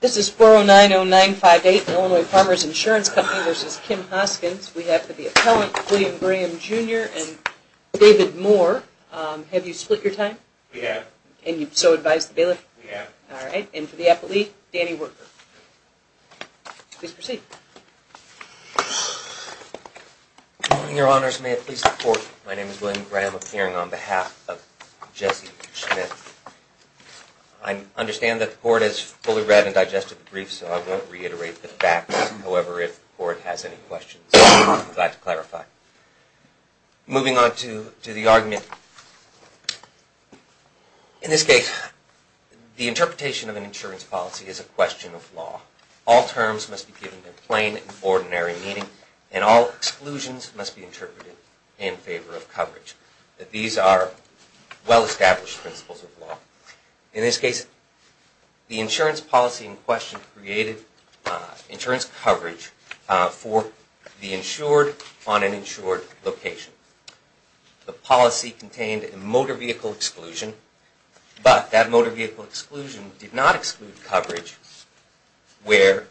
This is 4090958, Illinois Farmers Insurance Company v. Kim Hoskins. We have for the appellant, William Graham Jr. and David Moore. Have you split your time? We have. And you've so advised the bailiff? We have. Alright. And for the appellate, Danny Worker. Please proceed. Good morning, Your Honors. May it please the Court, my name is William Graham, appearing on behalf of Jesse Smith. I understand that the Court has fully read and digested the brief, so I won't reiterate the facts. However, if the Court has any questions, I'd be glad to clarify. Moving on to the argument, in this case, the interpretation of an insurance policy is a question of law. All terms must be given in plain and ordinary meaning and all exclusions must be interpreted in favor of coverage. These are well-established principles of law. In this case, the insurance policy in question created insurance coverage for the insured on an insured location. The policy contained a motor vehicle exclusion, but that motor vehicle exclusion did not exclude coverage where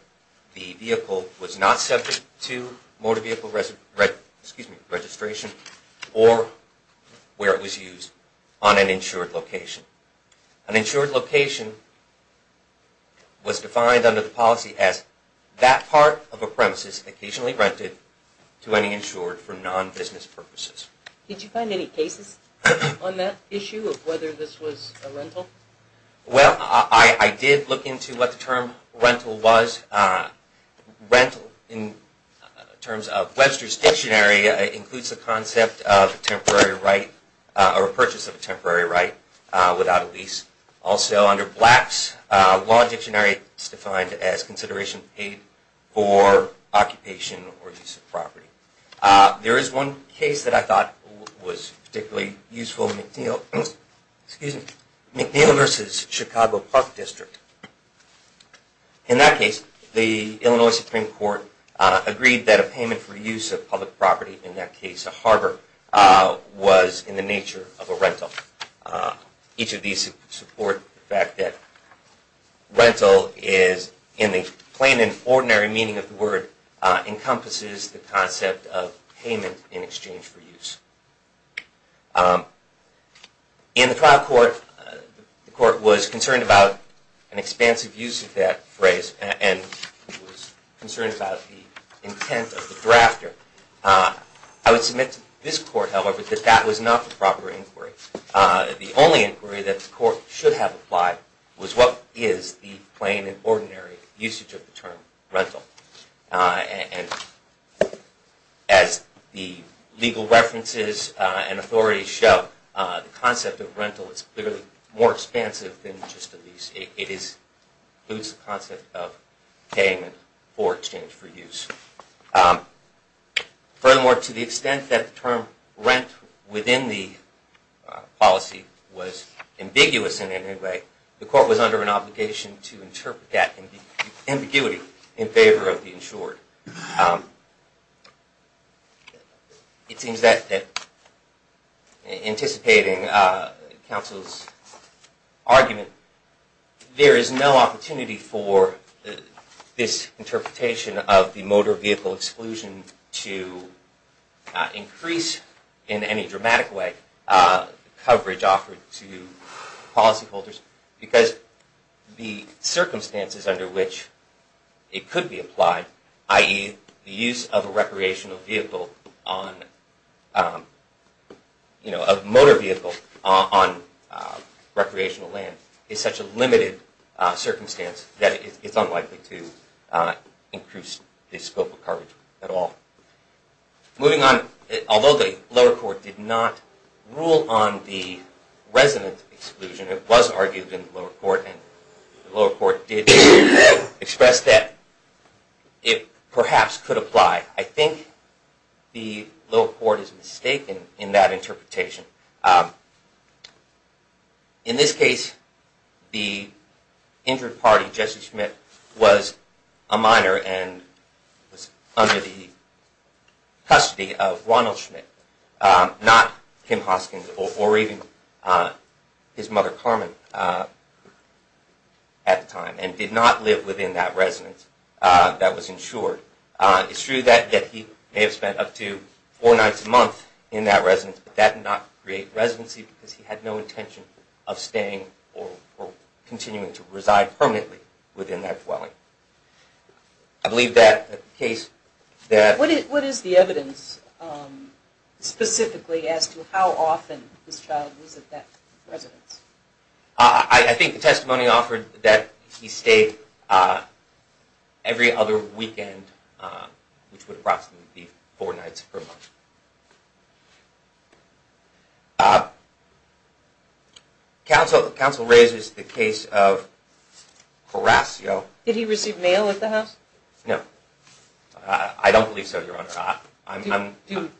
the vehicle was not subject to motor vehicle registration or where it was used on an insured location. An insured location was defined under the policy as that part of a premises occasionally rented to any insured for non-business purposes. Did you find any cases on that issue of whether this was a rental? Well, I did look into what the term rental was. Rental, in terms of Webster's Dictionary, includes the concept of a purchase of a temporary right without a lease. Also, under Black's Law Dictionary, it's defined as consideration paid for occupation or use of property. There is one case that I thought was particularly useful, McNeil v. Chicago Park District. In that case, the Illinois Supreme Court agreed that a payment for use of public property, in that case a harbor, was in the nature of a rental. Each of these support the fact that rental is, in the plain and ordinary meaning of the word, encompasses the concept of payment in exchange for use. In the trial court, the court was concerned about an expansive use of that phrase and was concerned about the intent of the drafter. I would submit to this court, however, that that was not the proper inquiry. The only inquiry that the court should have applied was what is the plain and ordinary usage of the term rental. As the legal references and authorities show, the concept of rental is clearly more expansive than just a lease. It includes the concept of payment for exchange for use. Furthermore, to the extent that the term rent within the policy was ambiguous in any way, the court was under an obligation to interpret that ambiguity in favor of the insured. It seems that, anticipating counsel's argument, there is no opportunity for this interpretation of the motor vehicle exclusion to increase in any dramatic way the coverage offered to policyholders. Because the circumstances under which it could be applied, i.e. the use of a motor vehicle on recreational land, is such a limited circumstance that it is unlikely to increase the scope of coverage at all. Moving on, although the lower court did not rule on the resident exclusion, it was argued in the lower court, and the lower court did express that it perhaps could apply. I think the lower court is mistaken in that interpretation. In this case, the injured party, Jesse Schmidt, was a minor and was under the custody of Ronald Schmidt, not Kim Hoskins or even his mother Carmen at the time, and did not live within that residence that was insured. It's true that he may have spent up to four nights a month in that residence, but that did not create residency because he had no intention of staying or continuing to reside permanently within that dwelling. I believe that the case that… What is the evidence specifically as to how often this child was at that residence? I think the testimony offered that he stayed every other weekend, which would approximately be four nights per month. Counsel raises the case of Horacio. Did he receive mail at the house? No. I don't believe so, Your Honor. Do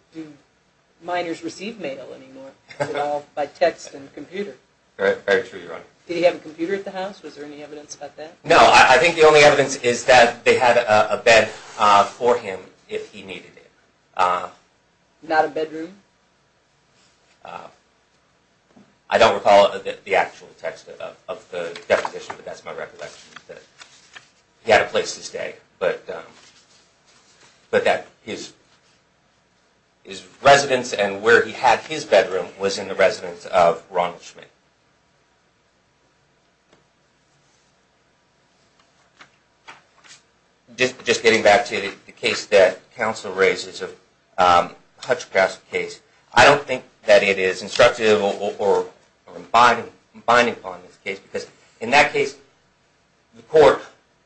minors receive mail anymore? Is it all by text and computer? Very true, Your Honor. Did he have a computer at the house? Was there any evidence about that? No. I think the only evidence is that they had a bed for him if he needed it. Not a bedroom? I don't recall the actual text of the deposition, but that's my recollection. He had a place to stay, but that his residence and where he had his bedroom was in the residence of Ronald Schmidt. Just getting back to the case that counsel raised, it's a Hutchcraft case. I don't think that it is instructive or binding on this case because in that case, the court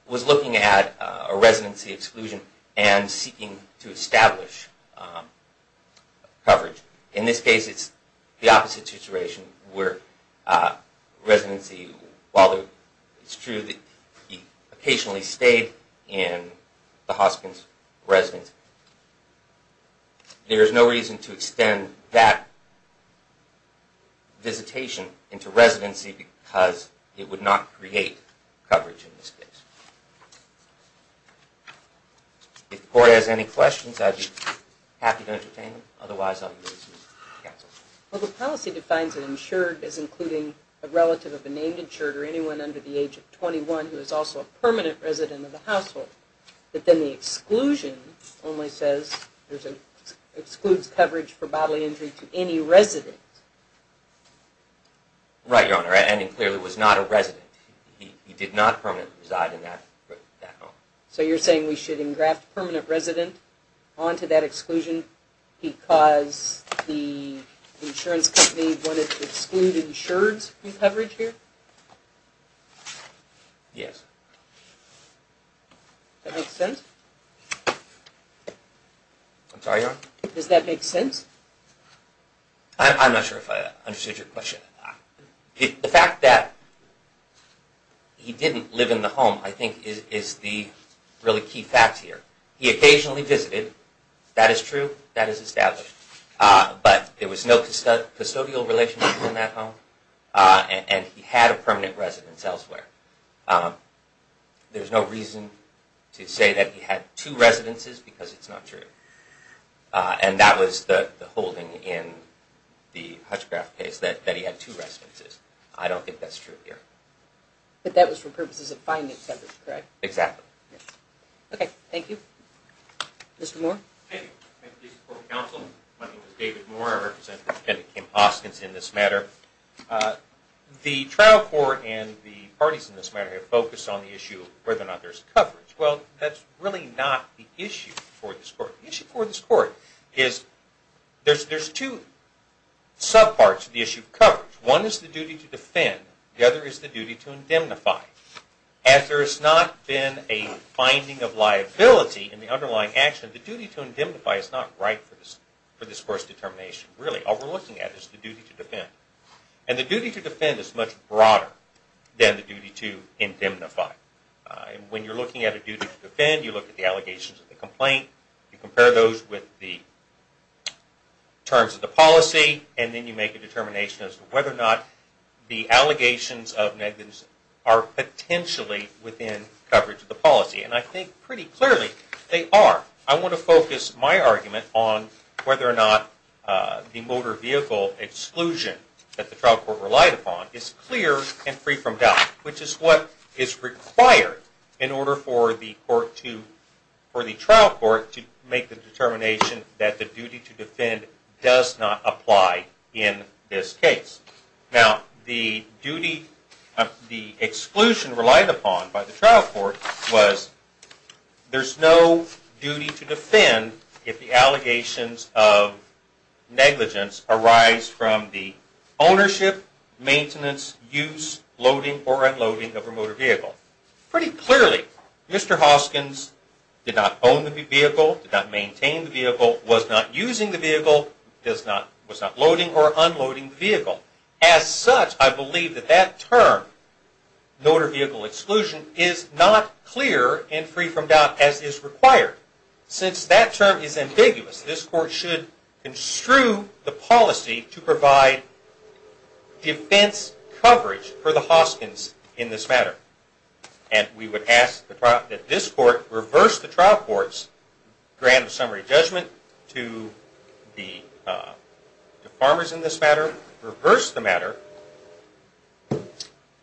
was looking at a residency exclusion and seeking to establish coverage. In this case, it's the opposite situation where it's true that he occasionally stayed in the Hoskins residence. There is no reason to extend that visitation into residency because it would not create coverage in this case. If the court has any questions, I'd be happy to entertain them. Otherwise, I'll move this case to counsel. Well, the policy defines an insured as including a relative of a named insured or anyone under the age of 21 who is also a permanent resident of the household. But then the exclusion only says it excludes coverage for bodily injury to any resident. Right, Your Honor. And it clearly was not a resident. He did not permanently reside in that home. So you're saying we should engraft permanent resident onto that exclusion because the insurance company wanted to exclude insureds from coverage here? Yes. Does that make sense? I'm sorry, Your Honor? Does that make sense? I'm not sure if I understood your question. The fact that he didn't live in the home, I think, is the really key fact here. He occasionally visited. That is true. That is established. But there was no custodial relationship in that home. And he had a permanent residence elsewhere. There's no reason to say that he had two residences because it's not true. And that was the holding in the Hutchcraft case, that he had two residences. I don't think that's true here. But that was for purposes of finding coverage, correct? Exactly. Okay, thank you. Mr. Moore? Thank you. I'm with the District Court of Counsel. My name is David Moore. I represent Attendant Kim Hoskins in this matter. The trial court and the parties in this matter have focused on the issue of whether or not there's coverage. Well, that's really not the issue for this court. The issue for this court is there's two subparts of the issue of coverage. One is the duty to defend. The other is the duty to indemnify. As there has not been a finding of liability in the underlying action, the duty to indemnify is not right for this court's determination. Really, all we're looking at is the duty to defend. And the duty to defend is much broader than the duty to indemnify. When you're looking at a duty to defend, you look at the allegations of the complaint, you compare those with the terms of the policy, and then you make a determination as to whether or not the allegations of negligence are potentially within coverage of the policy. And I think pretty clearly they are. I want to focus my argument on whether or not the motor vehicle exclusion that the trial court relied upon is clear and free from doubt, which is what is required in order for the trial court to make the determination that the duty to defend does not apply in this case. Now, the exclusion relied upon by the trial court was there's no duty to defend if the allegations of negligence arise from the ownership, maintenance, use, loading, or unloading of a motor vehicle. Pretty clearly, Mr. Hoskins did not own the vehicle, did not maintain the vehicle, was not using the vehicle, was not loading or unloading the vehicle. As such, I believe that that term, motor vehicle exclusion, is not clear and free from doubt as is required. Since that term is ambiguous, this court should construe the policy to provide defense coverage for the Hoskins in this matter. And we would ask that this court reverse the trial court's grant of summary judgment to the farmers in this matter, reverse the matter.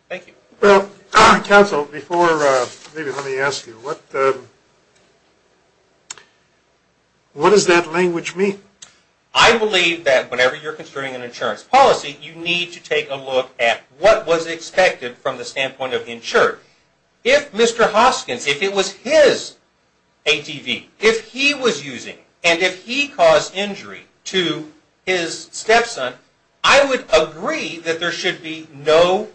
Thank you. Well, counsel, before maybe let me ask you, what does that language mean? I believe that whenever you're construing an insurance policy, you need to take a look at what was expected from the standpoint of insurance. If Mr. Hoskins, if it was his ATV, if he was using and if he caused injury to his stepson, I would agree that there should be no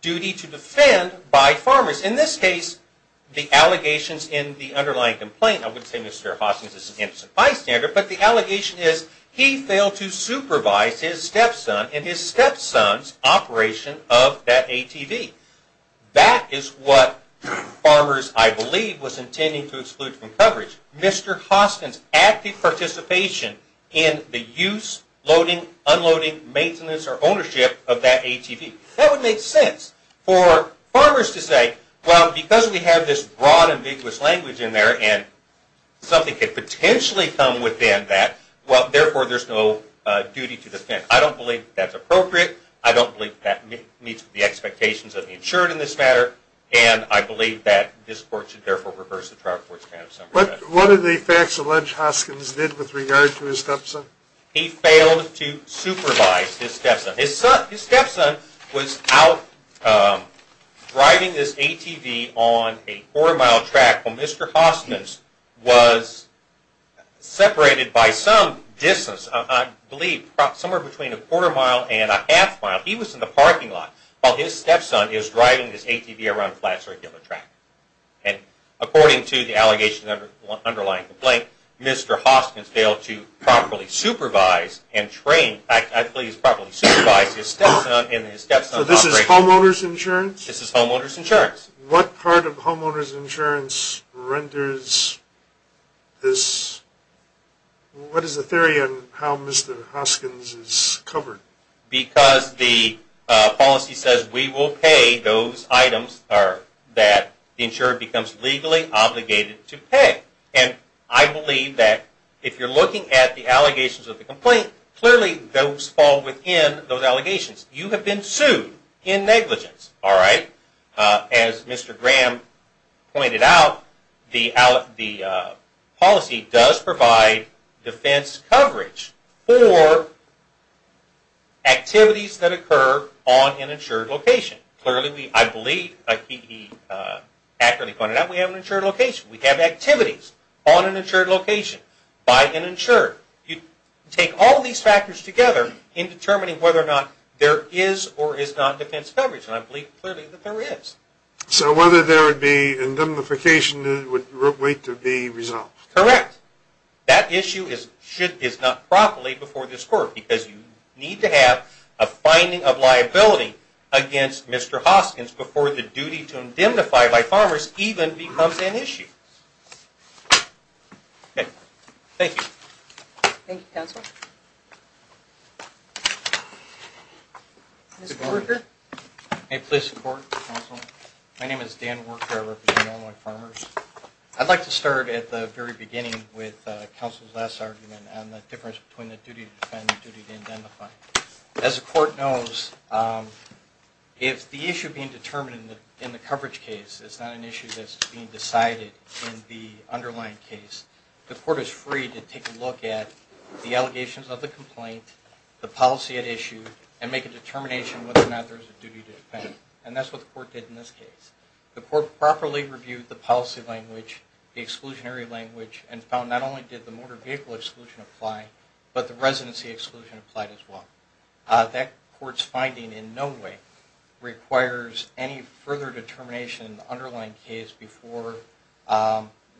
duty to defend by farmers. In this case, the allegations in the underlying complaint, I wouldn't say Mr. Hoskins is an innocent bystander, but the allegation is he failed to supervise his stepson and his stepson's operation of that ATV. That is what farmers, I believe, was intending to exclude from coverage. Mr. Hoskins' active participation in the use, loading, unloading, maintenance, or ownership of that ATV. That would make sense for farmers to say, well, because we have this broad and vigorous language in there and something could potentially come within that, well, therefore, there's no duty to defend. I don't believe that's appropriate. I don't believe that meets the expectations of the insured in this matter, and I believe that this court should therefore reverse the trial court's stand. What are the facts that Lynch Hoskins did with regard to his stepson? He failed to supervise his stepson. His stepson was out driving his ATV on a quarter-mile track while Mr. Hoskins was separated by some distance, I believe somewhere between a quarter-mile and a half-mile. He was in the parking lot while his stepson is driving his ATV around a flat, circular track. And according to the allegations of the underlying complaint, Mr. Hoskins failed to properly supervise and train, in fact, I believe he's properly supervised his stepson in his stepson's operation. So this is homeowner's insurance? This is homeowner's insurance. What part of homeowner's insurance renders this, what is the theory on how Mr. Hoskins is covered? Because the policy says we will pay those items that the insurer becomes legally obligated to pay. And I believe that if you're looking at the allegations of the complaint, clearly those fall within those allegations. You have been sued in negligence, all right? As Mr. Graham pointed out, the policy does provide defense coverage for activities that occur on an insured location. Clearly, I believe he accurately pointed out we have an insured location. We have activities on an insured location by an insured. You take all of these factors together in determining whether or not there is or is not defense coverage. And I believe clearly that there is. So whether there would be indemnification would wait to be resolved? Correct. That issue is not properly before this court because you need to have a finding of liability against Mr. Hoskins before the duty to indemnify by farmers even becomes an issue. Thank you. Thank you, Counsel. Mr. Worker. May it please the Court, Counsel. My name is Dan Worker. I represent Illinois Farmers. I'd like to start at the very beginning with Counsel's last argument on the difference between the duty to defend and the duty to indemnify. As the Court knows, if the issue being determined in the coverage case is not an issue that's being decided in the underlying case, the Court is free to take a look at the allegations of the complaint, the policy at issue, and make a determination whether or not there is a duty to defend. And that's what the Court did in this case. The Court properly reviewed the policy language, the exclusionary language, and found not only did the motor vehicle exclusion apply, but the residency exclusion applied as well. That Court's finding in no way requires any further determination in the underlying case before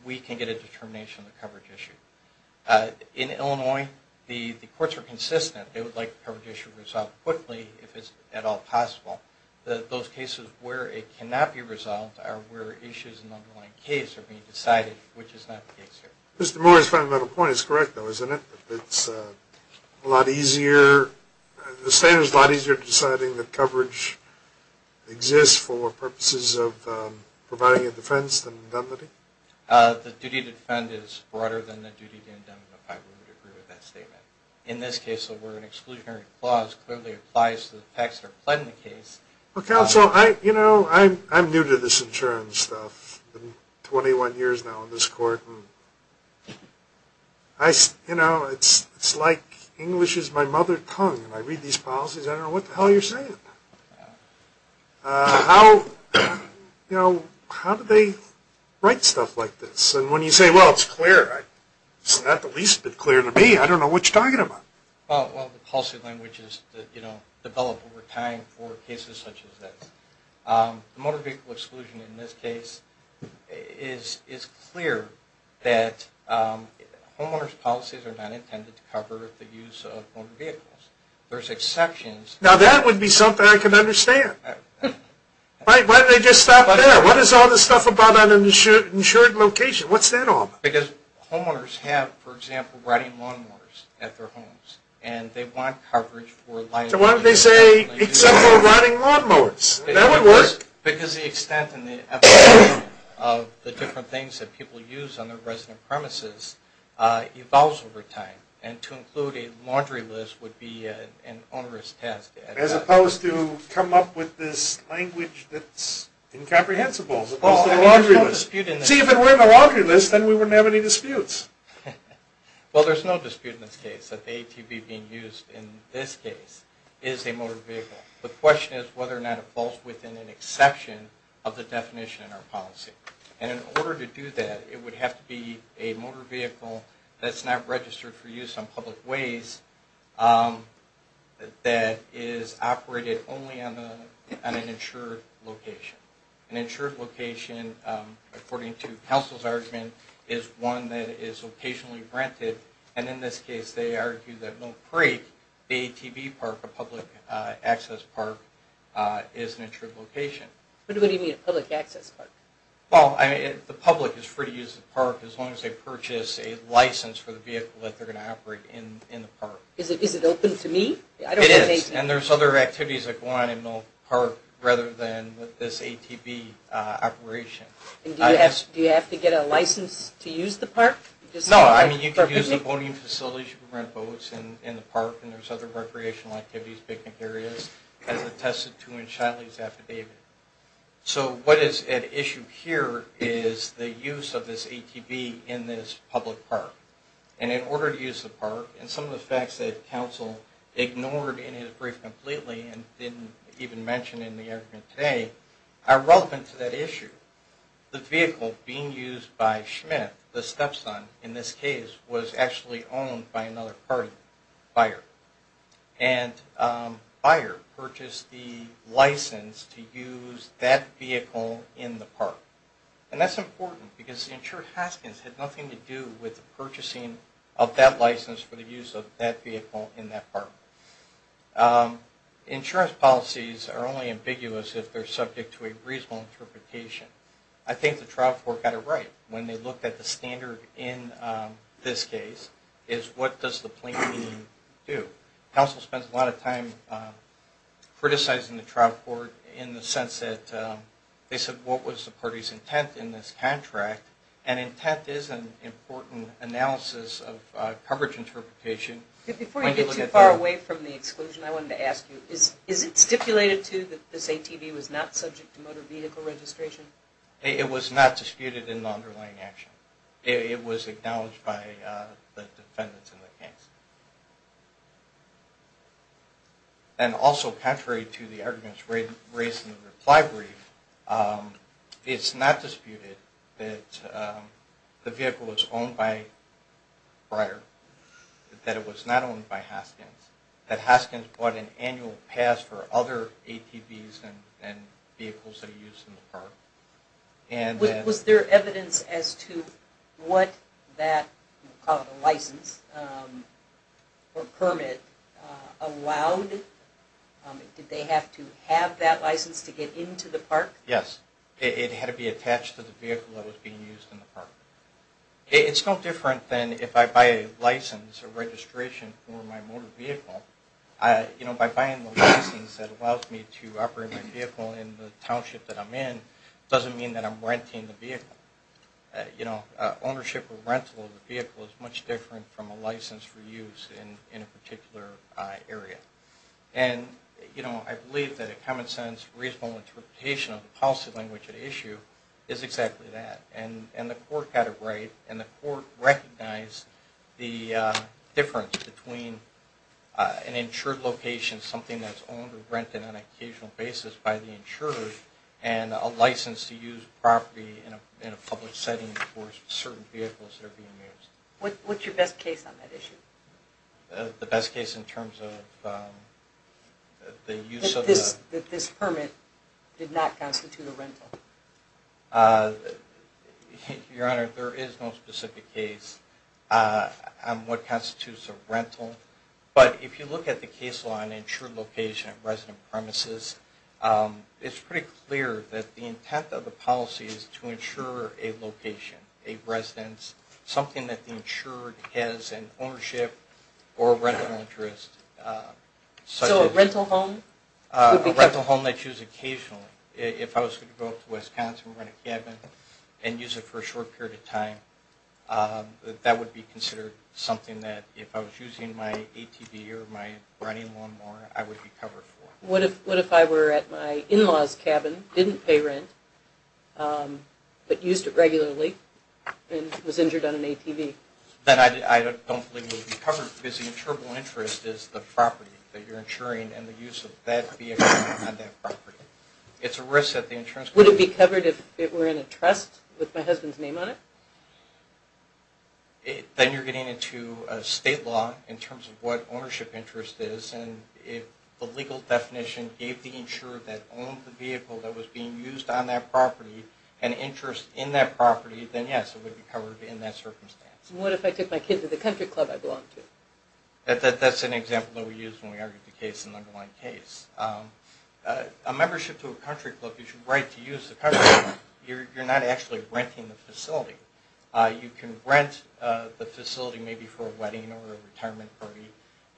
we can get a determination of the coverage issue. In Illinois, the Courts are consistent. They would like the coverage issue resolved quickly if at all possible. Those cases where it cannot be resolved are where issues in the underlying case are being decided, which is not the case here. Mr. Moore's fundamental point is correct, though, isn't it? It's a lot easier. The State is a lot easier deciding that coverage exists for purposes of providing a defense than indemnity? The duty to defend is broader than the duty to indemnify. I would agree with that statement. In this case, the word exclusionary clause clearly applies to the facts that are applied in the case. Counsel, I'm new to this insurance stuff. I've been 21 years now in this Court. It's like English is my mother tongue. When I read these policies, I don't know what the hell you're saying. How do they write stuff like this? And when you say, well, it's clear, it's not the least bit clear to me. I don't know what you're talking about. Well, the policy language is developed over time for cases such as this. Motor vehicle exclusion in this case is clear that homeowners' policies are not intended to cover the use of motor vehicles. There's exceptions. Now, that would be something I could understand. Why did they just stop there? What is all this stuff about an insured location? What's that all about? Because homeowners have, for example, rotting lawnmowers at their homes. And they want coverage for liability. So why don't they say, except for rotting lawnmowers? That would work. Because the extent and the efficacy of the different things that people use on their resident premises evolves over time. And to include a laundry list would be an onerous task. As opposed to come up with this language that's incomprehensible as opposed to a laundry list. See, if it were a laundry list, then we wouldn't have any disputes. Well, there's no dispute in this case that the ATV being used in this case is a motor vehicle. The question is whether or not it falls within an exception of the definition in our policy. And in order to do that, it would have to be a motor vehicle that's not registered for use on public ways that is operated only on an insured location. An insured location, according to counsel's argument, is one that is occasionally rented. And in this case, they argue that no freight ATV park, a public access park, is an insured location. What do you mean a public access park? Well, the public is free to use the park as long as they purchase a license for the vehicle that they're going to operate in the park. Is it open to me? It is. And there's other activities that go on in the park rather than this ATV operation. Do you have to get a license to use the park? No. I mean, you can use the boating facilities, you can rent boats in the park, and there's other recreational activities, picnic areas, as attested to in Shiley's affidavit. So what is at issue here is the use of this ATV in this public park. And in order to use the park, and some of the facts that counsel ignored in his brief completely and didn't even mention in the argument today, are relevant to that issue. The vehicle being used by Schmidt, the stepson in this case, was actually owned by another party, Bayer. And Bayer purchased the license to use that vehicle in the park. And that's important because the insured Haskins had nothing to do with the purchasing of that license for the use of that vehicle in that park. Insurance policies are only ambiguous if they're subject to a reasonable interpretation. I think the trial court got it right when they looked at the standard in this case, is what does the plaintiff need to do? Counsel spends a lot of time criticizing the trial court in the sense that they said, what was the party's intent in this contract? And intent is an important analysis of coverage interpretation. Before you get too far away from the exclusion, I wanted to ask you, is it stipulated too that this ATV was not subject to motor vehicle registration? It was not disputed in the underlying action. It was acknowledged by the defendants in the case. And also contrary to the arguments raised in the reply brief, it's not disputed that the vehicle was owned by Breyer, that it was not owned by Haskins, that Haskins bought an annual pass for other ATVs and vehicles that are used in the park. Was there evidence as to what that license or permit allowed? Did they have to have that license to get into the park? Yes. It had to be attached to the vehicle that was being used in the park. It's no different than if I buy a license or registration for my motor vehicle. By buying the license that allows me to operate my vehicle in the township that I'm in doesn't mean that I'm renting the vehicle. Ownership or rental of the vehicle is much different from a license for use in a particular area. And I believe that a common-sense, reasonable interpretation of the policy language at issue is exactly that. And the court had it right, and the court recognized the difference between a license and registration. An insured location, something that's owned or rented on an occasional basis by the insurer, and a license to use property in a public setting for certain vehicles that are being used. What's your best case on that issue? That this permit did not constitute a rental. Your Honor, there is no specific case on what constitutes a rental. But if you look at the case law on insured location at resident premises, it's pretty clear that the intent of the policy is to insure a location, a residence, something that the insurer has an ownership or rental interest. So a rental home? A rental home they choose occasionally. If I was going to go up to Wisconsin and rent a cabin and use it for a short period of time, that would be considered something that if I was using my ATV or my running lawn mower, I would be covered for. What if I were at my in-law's cabin, didn't pay rent, but used it regularly, and was injured on an ATV? Then I don't believe it would be covered because the insurable interest is the property that you're insuring, and the use of that vehicle on that property. It's a risk that the insurance company... Would it be covered if it were in a trust with my husband's name on it? Then you're getting into state law in terms of what ownership interest is, and if the legal definition gave the insurer that owned the vehicle that was being used on that property an interest in that property, then yes, it would be covered in that circumstance. What if I took my kids to the country club I belong to? That's an example that we use when we argue the case in the underlying case. A membership to a country club is your right to use the country club. You're not actually renting the facility. You can rent the facility maybe for a wedding or a retirement party.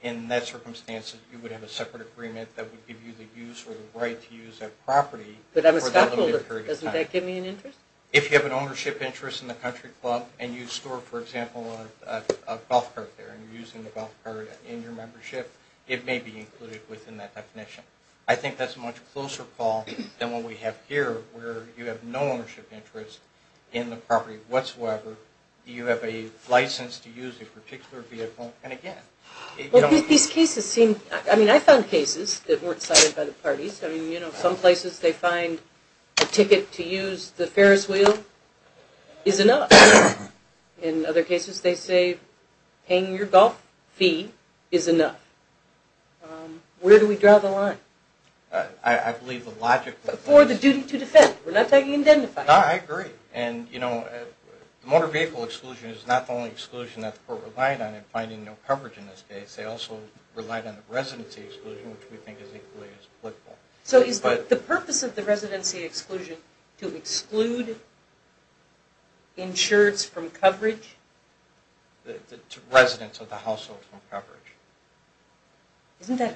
In that circumstance, you would have a separate agreement that would give you the use or the right to use that property for a limited period of time. If you have an ownership interest in the country club and you store, for example, a golf cart there, and you're using the golf cart in your membership, it may be included within that definition. I think that's a much closer call than what we have here where you have no ownership interest in the property whatsoever. You have a license to use a particular vehicle, and again... These cases seem... I mean, I found cases that weren't cited by the parties. Some places, they find a ticket to use the Ferris wheel is enough. In other cases, they say paying your golf fee is enough. Where do we draw the line? I believe the logic... Motor vehicle exclusion is not the only exclusion that the court relied on in finding no coverage in this case. They also relied on the residency exclusion, which we think is equally as applicable. So is the purpose of the residency exclusion to exclude insureds from coverage? Residents of the household from coverage. The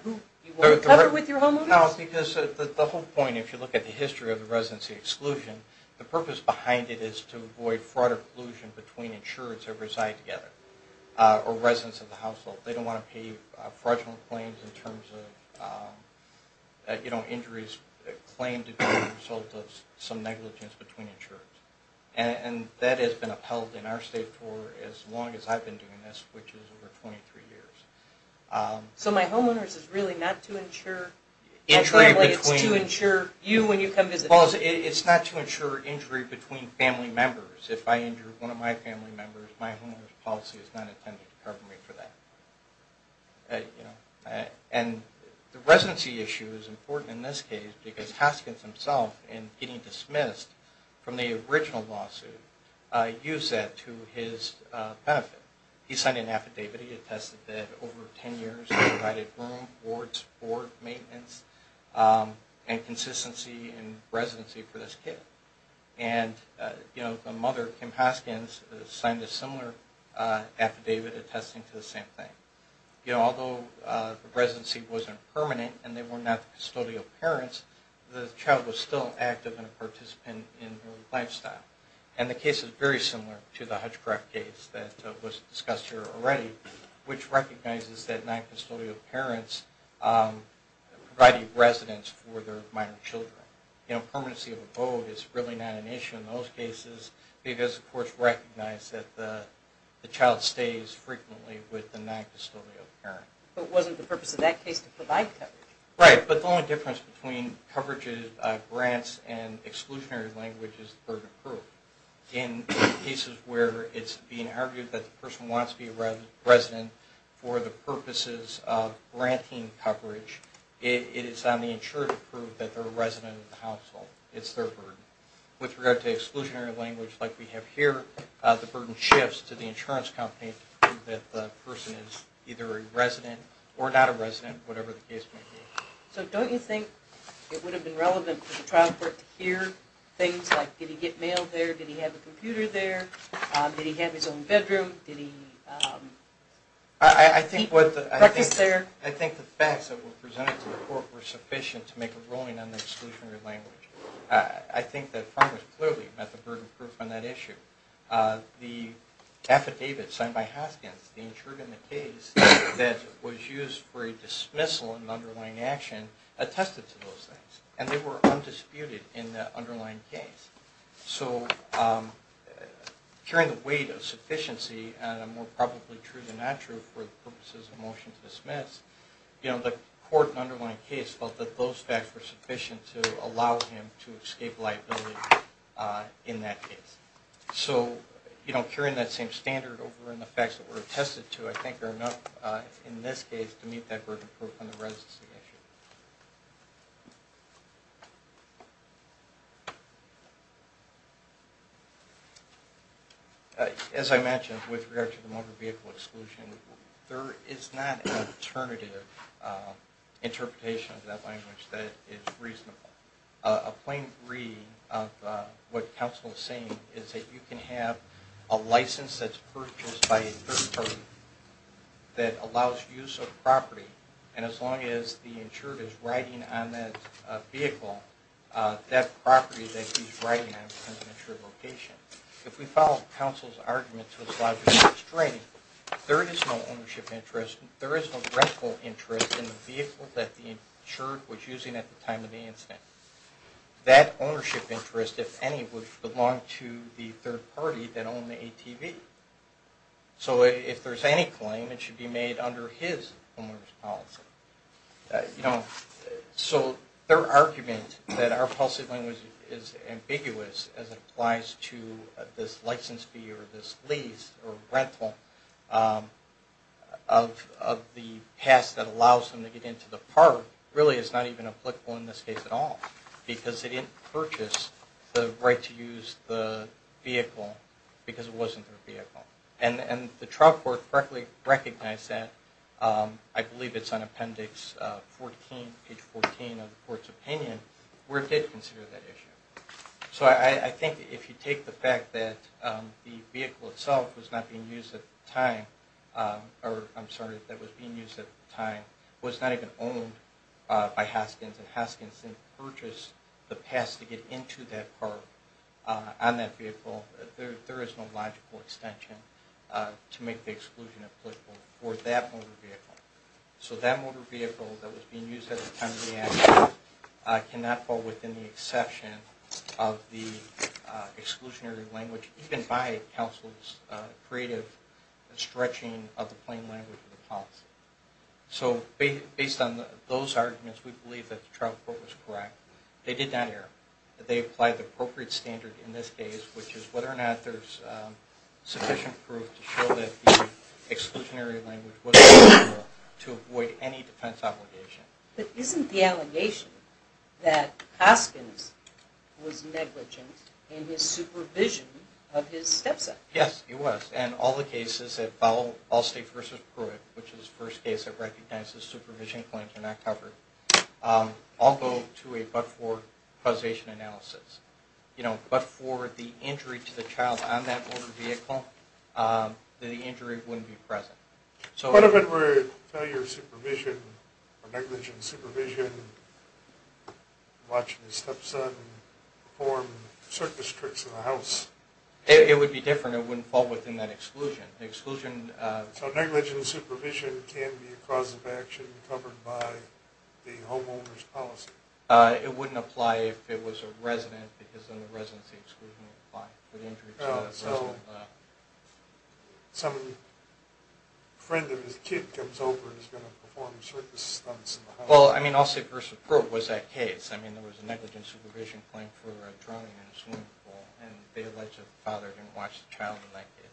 whole point, if you look at the history of the residency exclusion, the purpose behind it is to avoid fraud or collusion between insureds who reside together or residents of the household. They don't want to pay fraudulent claims in terms of injuries claimed as a result of some negligence between insureds. And that has been upheld in our state for as long as I've been doing this, which is over 23 years. So my homeowner's is really not to insure... It's not to insure injury between family members. If I injure one of my family members, my homeowner's policy is not intended to cover me for that. And the residency issue is important in this case because Haskins himself, in getting dismissed from the original lawsuit, used that to his benefit. He signed an affidavit. He attested that over 10 years he provided room, boards, board, maintenance, and consistency in residency for this kid. And the mother, Kim Haskins, signed a similar affidavit attesting to the same thing. Although the residency wasn't permanent and they were not the custodial parents, the child was still active and a participant in her lifestyle. And the case is very similar to the Hutchcraft case that was discussed here already, which recognizes that non-custodial parents provide a residence for their minor children. Permanency of a vote is really not an issue in those cases because the courts recognize that the child stays frequently with the non-custodial parents. But it wasn't the purpose of that case to provide coverage. Right, but the only difference between coverage is grants and exclusionary language is the burden of proof. In cases where it's being argued that the person wants to be a resident for the purposes of granting coverage, it is on the insurer to prove that they're a resident of the household. It's their burden. With regard to exclusionary language like we have here, the burden shifts to the insurance company to prove that the person is either a resident or not a resident, whatever the case may be. So don't you think it would have been relevant for the trial court to hear things like, did he get mail there, did he have a computer there, did he have his own bedroom, did he eat breakfast there? I think the facts that were presented to the court were sufficient to make a ruling on the exclusionary language. I think that Congress clearly met the burden of proof on that issue. The affidavit signed by Hoskins, the insurer in the case that was used for a dismissal and an underlying action, attested to those things. And they were undisputed in the underlying case. So, carrying the weight of sufficiency, and more probably true than not true for the purposes of a motion to dismiss, the court in the underlying case felt that those facts were sufficient to allow him to escape liability in that case. So, carrying that same standard over in the facts that were attested to, I think are enough in this case to meet that burden of proof on the residency issue. As I mentioned, with regard to the motor vehicle exclusion, there is not an alternative interpretation of that language that is reasonable. A plain reading of what counsel is saying is that you can have a license that's purchased by a third party that allows use of property, and as long as the insurer doesn't have a license, the insurer is riding on that vehicle, that property that he's riding on, because of an insured location. If we follow counsel's argument to as large as restraining, there is no ownership interest, there is no rental interest in the vehicle that the insured was using at the time of the incident. That ownership interest, if any, would belong to the third party that owned the ATV. So, if there's any claim, it should be made under his owner's policy. So, their argument that our policy language is ambiguous as it applies to this license fee or this lease or rental of the pass that allows them to get into the park, really is not even applicable in this case at all, because they didn't purchase the right to use the vehicle because it wasn't their vehicle. And the trial court correctly recognized that, I believe it's on appendix 14, page 14 of the court's opinion, where it did consider that issue. So, I think if you take the fact that the vehicle itself was not being used at the time, or, I'm sorry, that it was being used at the time, was not even owned by Haskins, and Haskins didn't purchase the pass to get into that park on that vehicle, there is no logical extension. To make the exclusion applicable for that motor vehicle. So, that motor vehicle that was being used at the time of the accident cannot fall within the exception of the exclusionary language, even by counsel's creative stretching of the plain language of the policy. So, based on those arguments, we believe that the trial court was correct. They did not err. They applied the appropriate standard in this case, which is whether or not there's sufficient proof to show that the exclusionary language was applicable to avoid any defense obligation. But isn't the allegation that Haskins was negligent in his supervision of his stepson? Yes, he was. And all the cases that follow Allstate v. Pruitt, which is the first case that recognizes supervision claims are not covered, although to a but-for causation analysis. But for the injury to the child on that motor vehicle, the injury wouldn't be present. What if it were failure of supervision, or negligent supervision, watching his stepson perform circus tricks in the house? It would be different. It wouldn't fall within that exclusion. So negligent supervision can be a cause of action covered by the homeowner's policy? It wouldn't apply if it was a resident, because then the residency exclusion would apply. So a friend of his kid comes over and is going to perform circus stunts in the house? Well, I mean, Allstate v. Pruitt was that case. I mean, there was a negligent supervision claim for a drowning in a swimming pool, and the negligent father didn't watch the child in that case.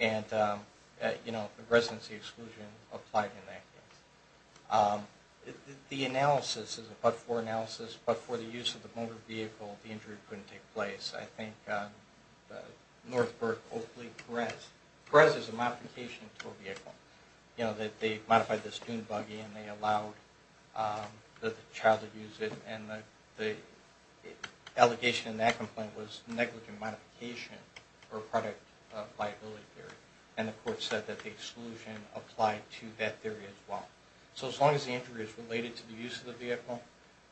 And the residency exclusion applied in that case. The analysis is a but-for analysis, but for the use of the motor vehicle, the injury couldn't take place. I think Northbrook, Oakley, Perez. Perez is a modification to a vehicle. They modified the student buggy, and they allowed the child to use it. And the allegation in that complaint was negligent modification or product liability theory. And the court said that the exclusion applied to that theory as well. So as long as the injury is related to the use of the vehicle,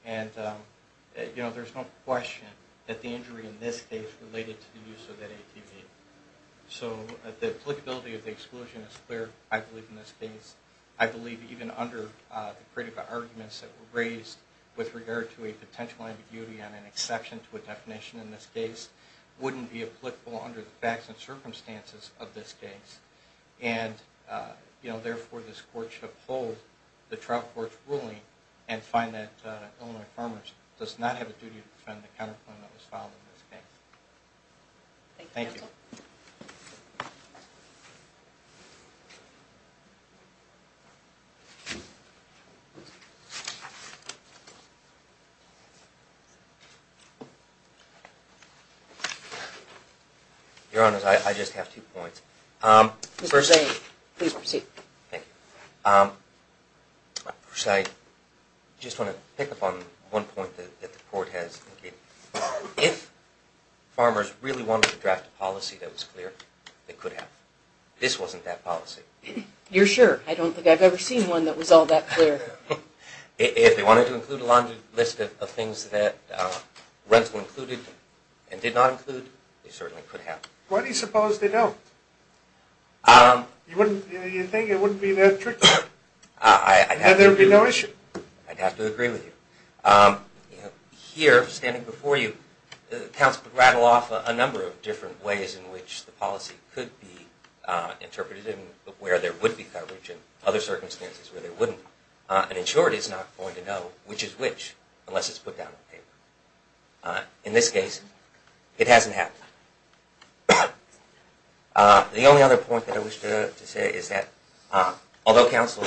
there's no question that the injury in this case is related to the use of that ATV. So the applicability of the exclusion is clear, I believe, in this case. I believe even under the critical arguments that were raised with regard to a potential ambiguity on an exception to a definition in this case, wouldn't be applicable under the facts and circumstances of this case. And therefore, this court should uphold the trial court's ruling and find that Illinois Farmers does not have a duty to defend the counterclaim that was filed in this case. Thank you. Your Honor, I just have two points. First, I just want to pick up on one point that the court has indicated. If farmers really wanted to draft a policy that was clear, they could have. This wasn't that policy. You're sure? I don't think I've ever seen one that was all that clear. If they wanted to include a long list of things that were included and did not include, they certainly could have. Why do you suppose they don't? You think it wouldn't be that tricky? I'd have to agree with you. Here, standing before you, counsel could rattle off a number of different ways in which the policy could be interpreted and where there would be coverage and other circumstances where there wouldn't. And in short, it's not going to know which is which unless it's put down on paper. In this case, it hasn't happened. The only other point that I wish to say is that although counsel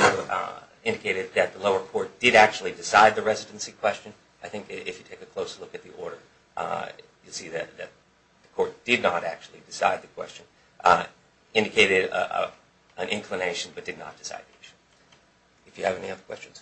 indicated that the lower court did actually decide the residency question, I think if you take a closer look at the order, you'll see that the court did not actually decide the question. It indicated an inclination but did not decide the issue. If you have any other questions.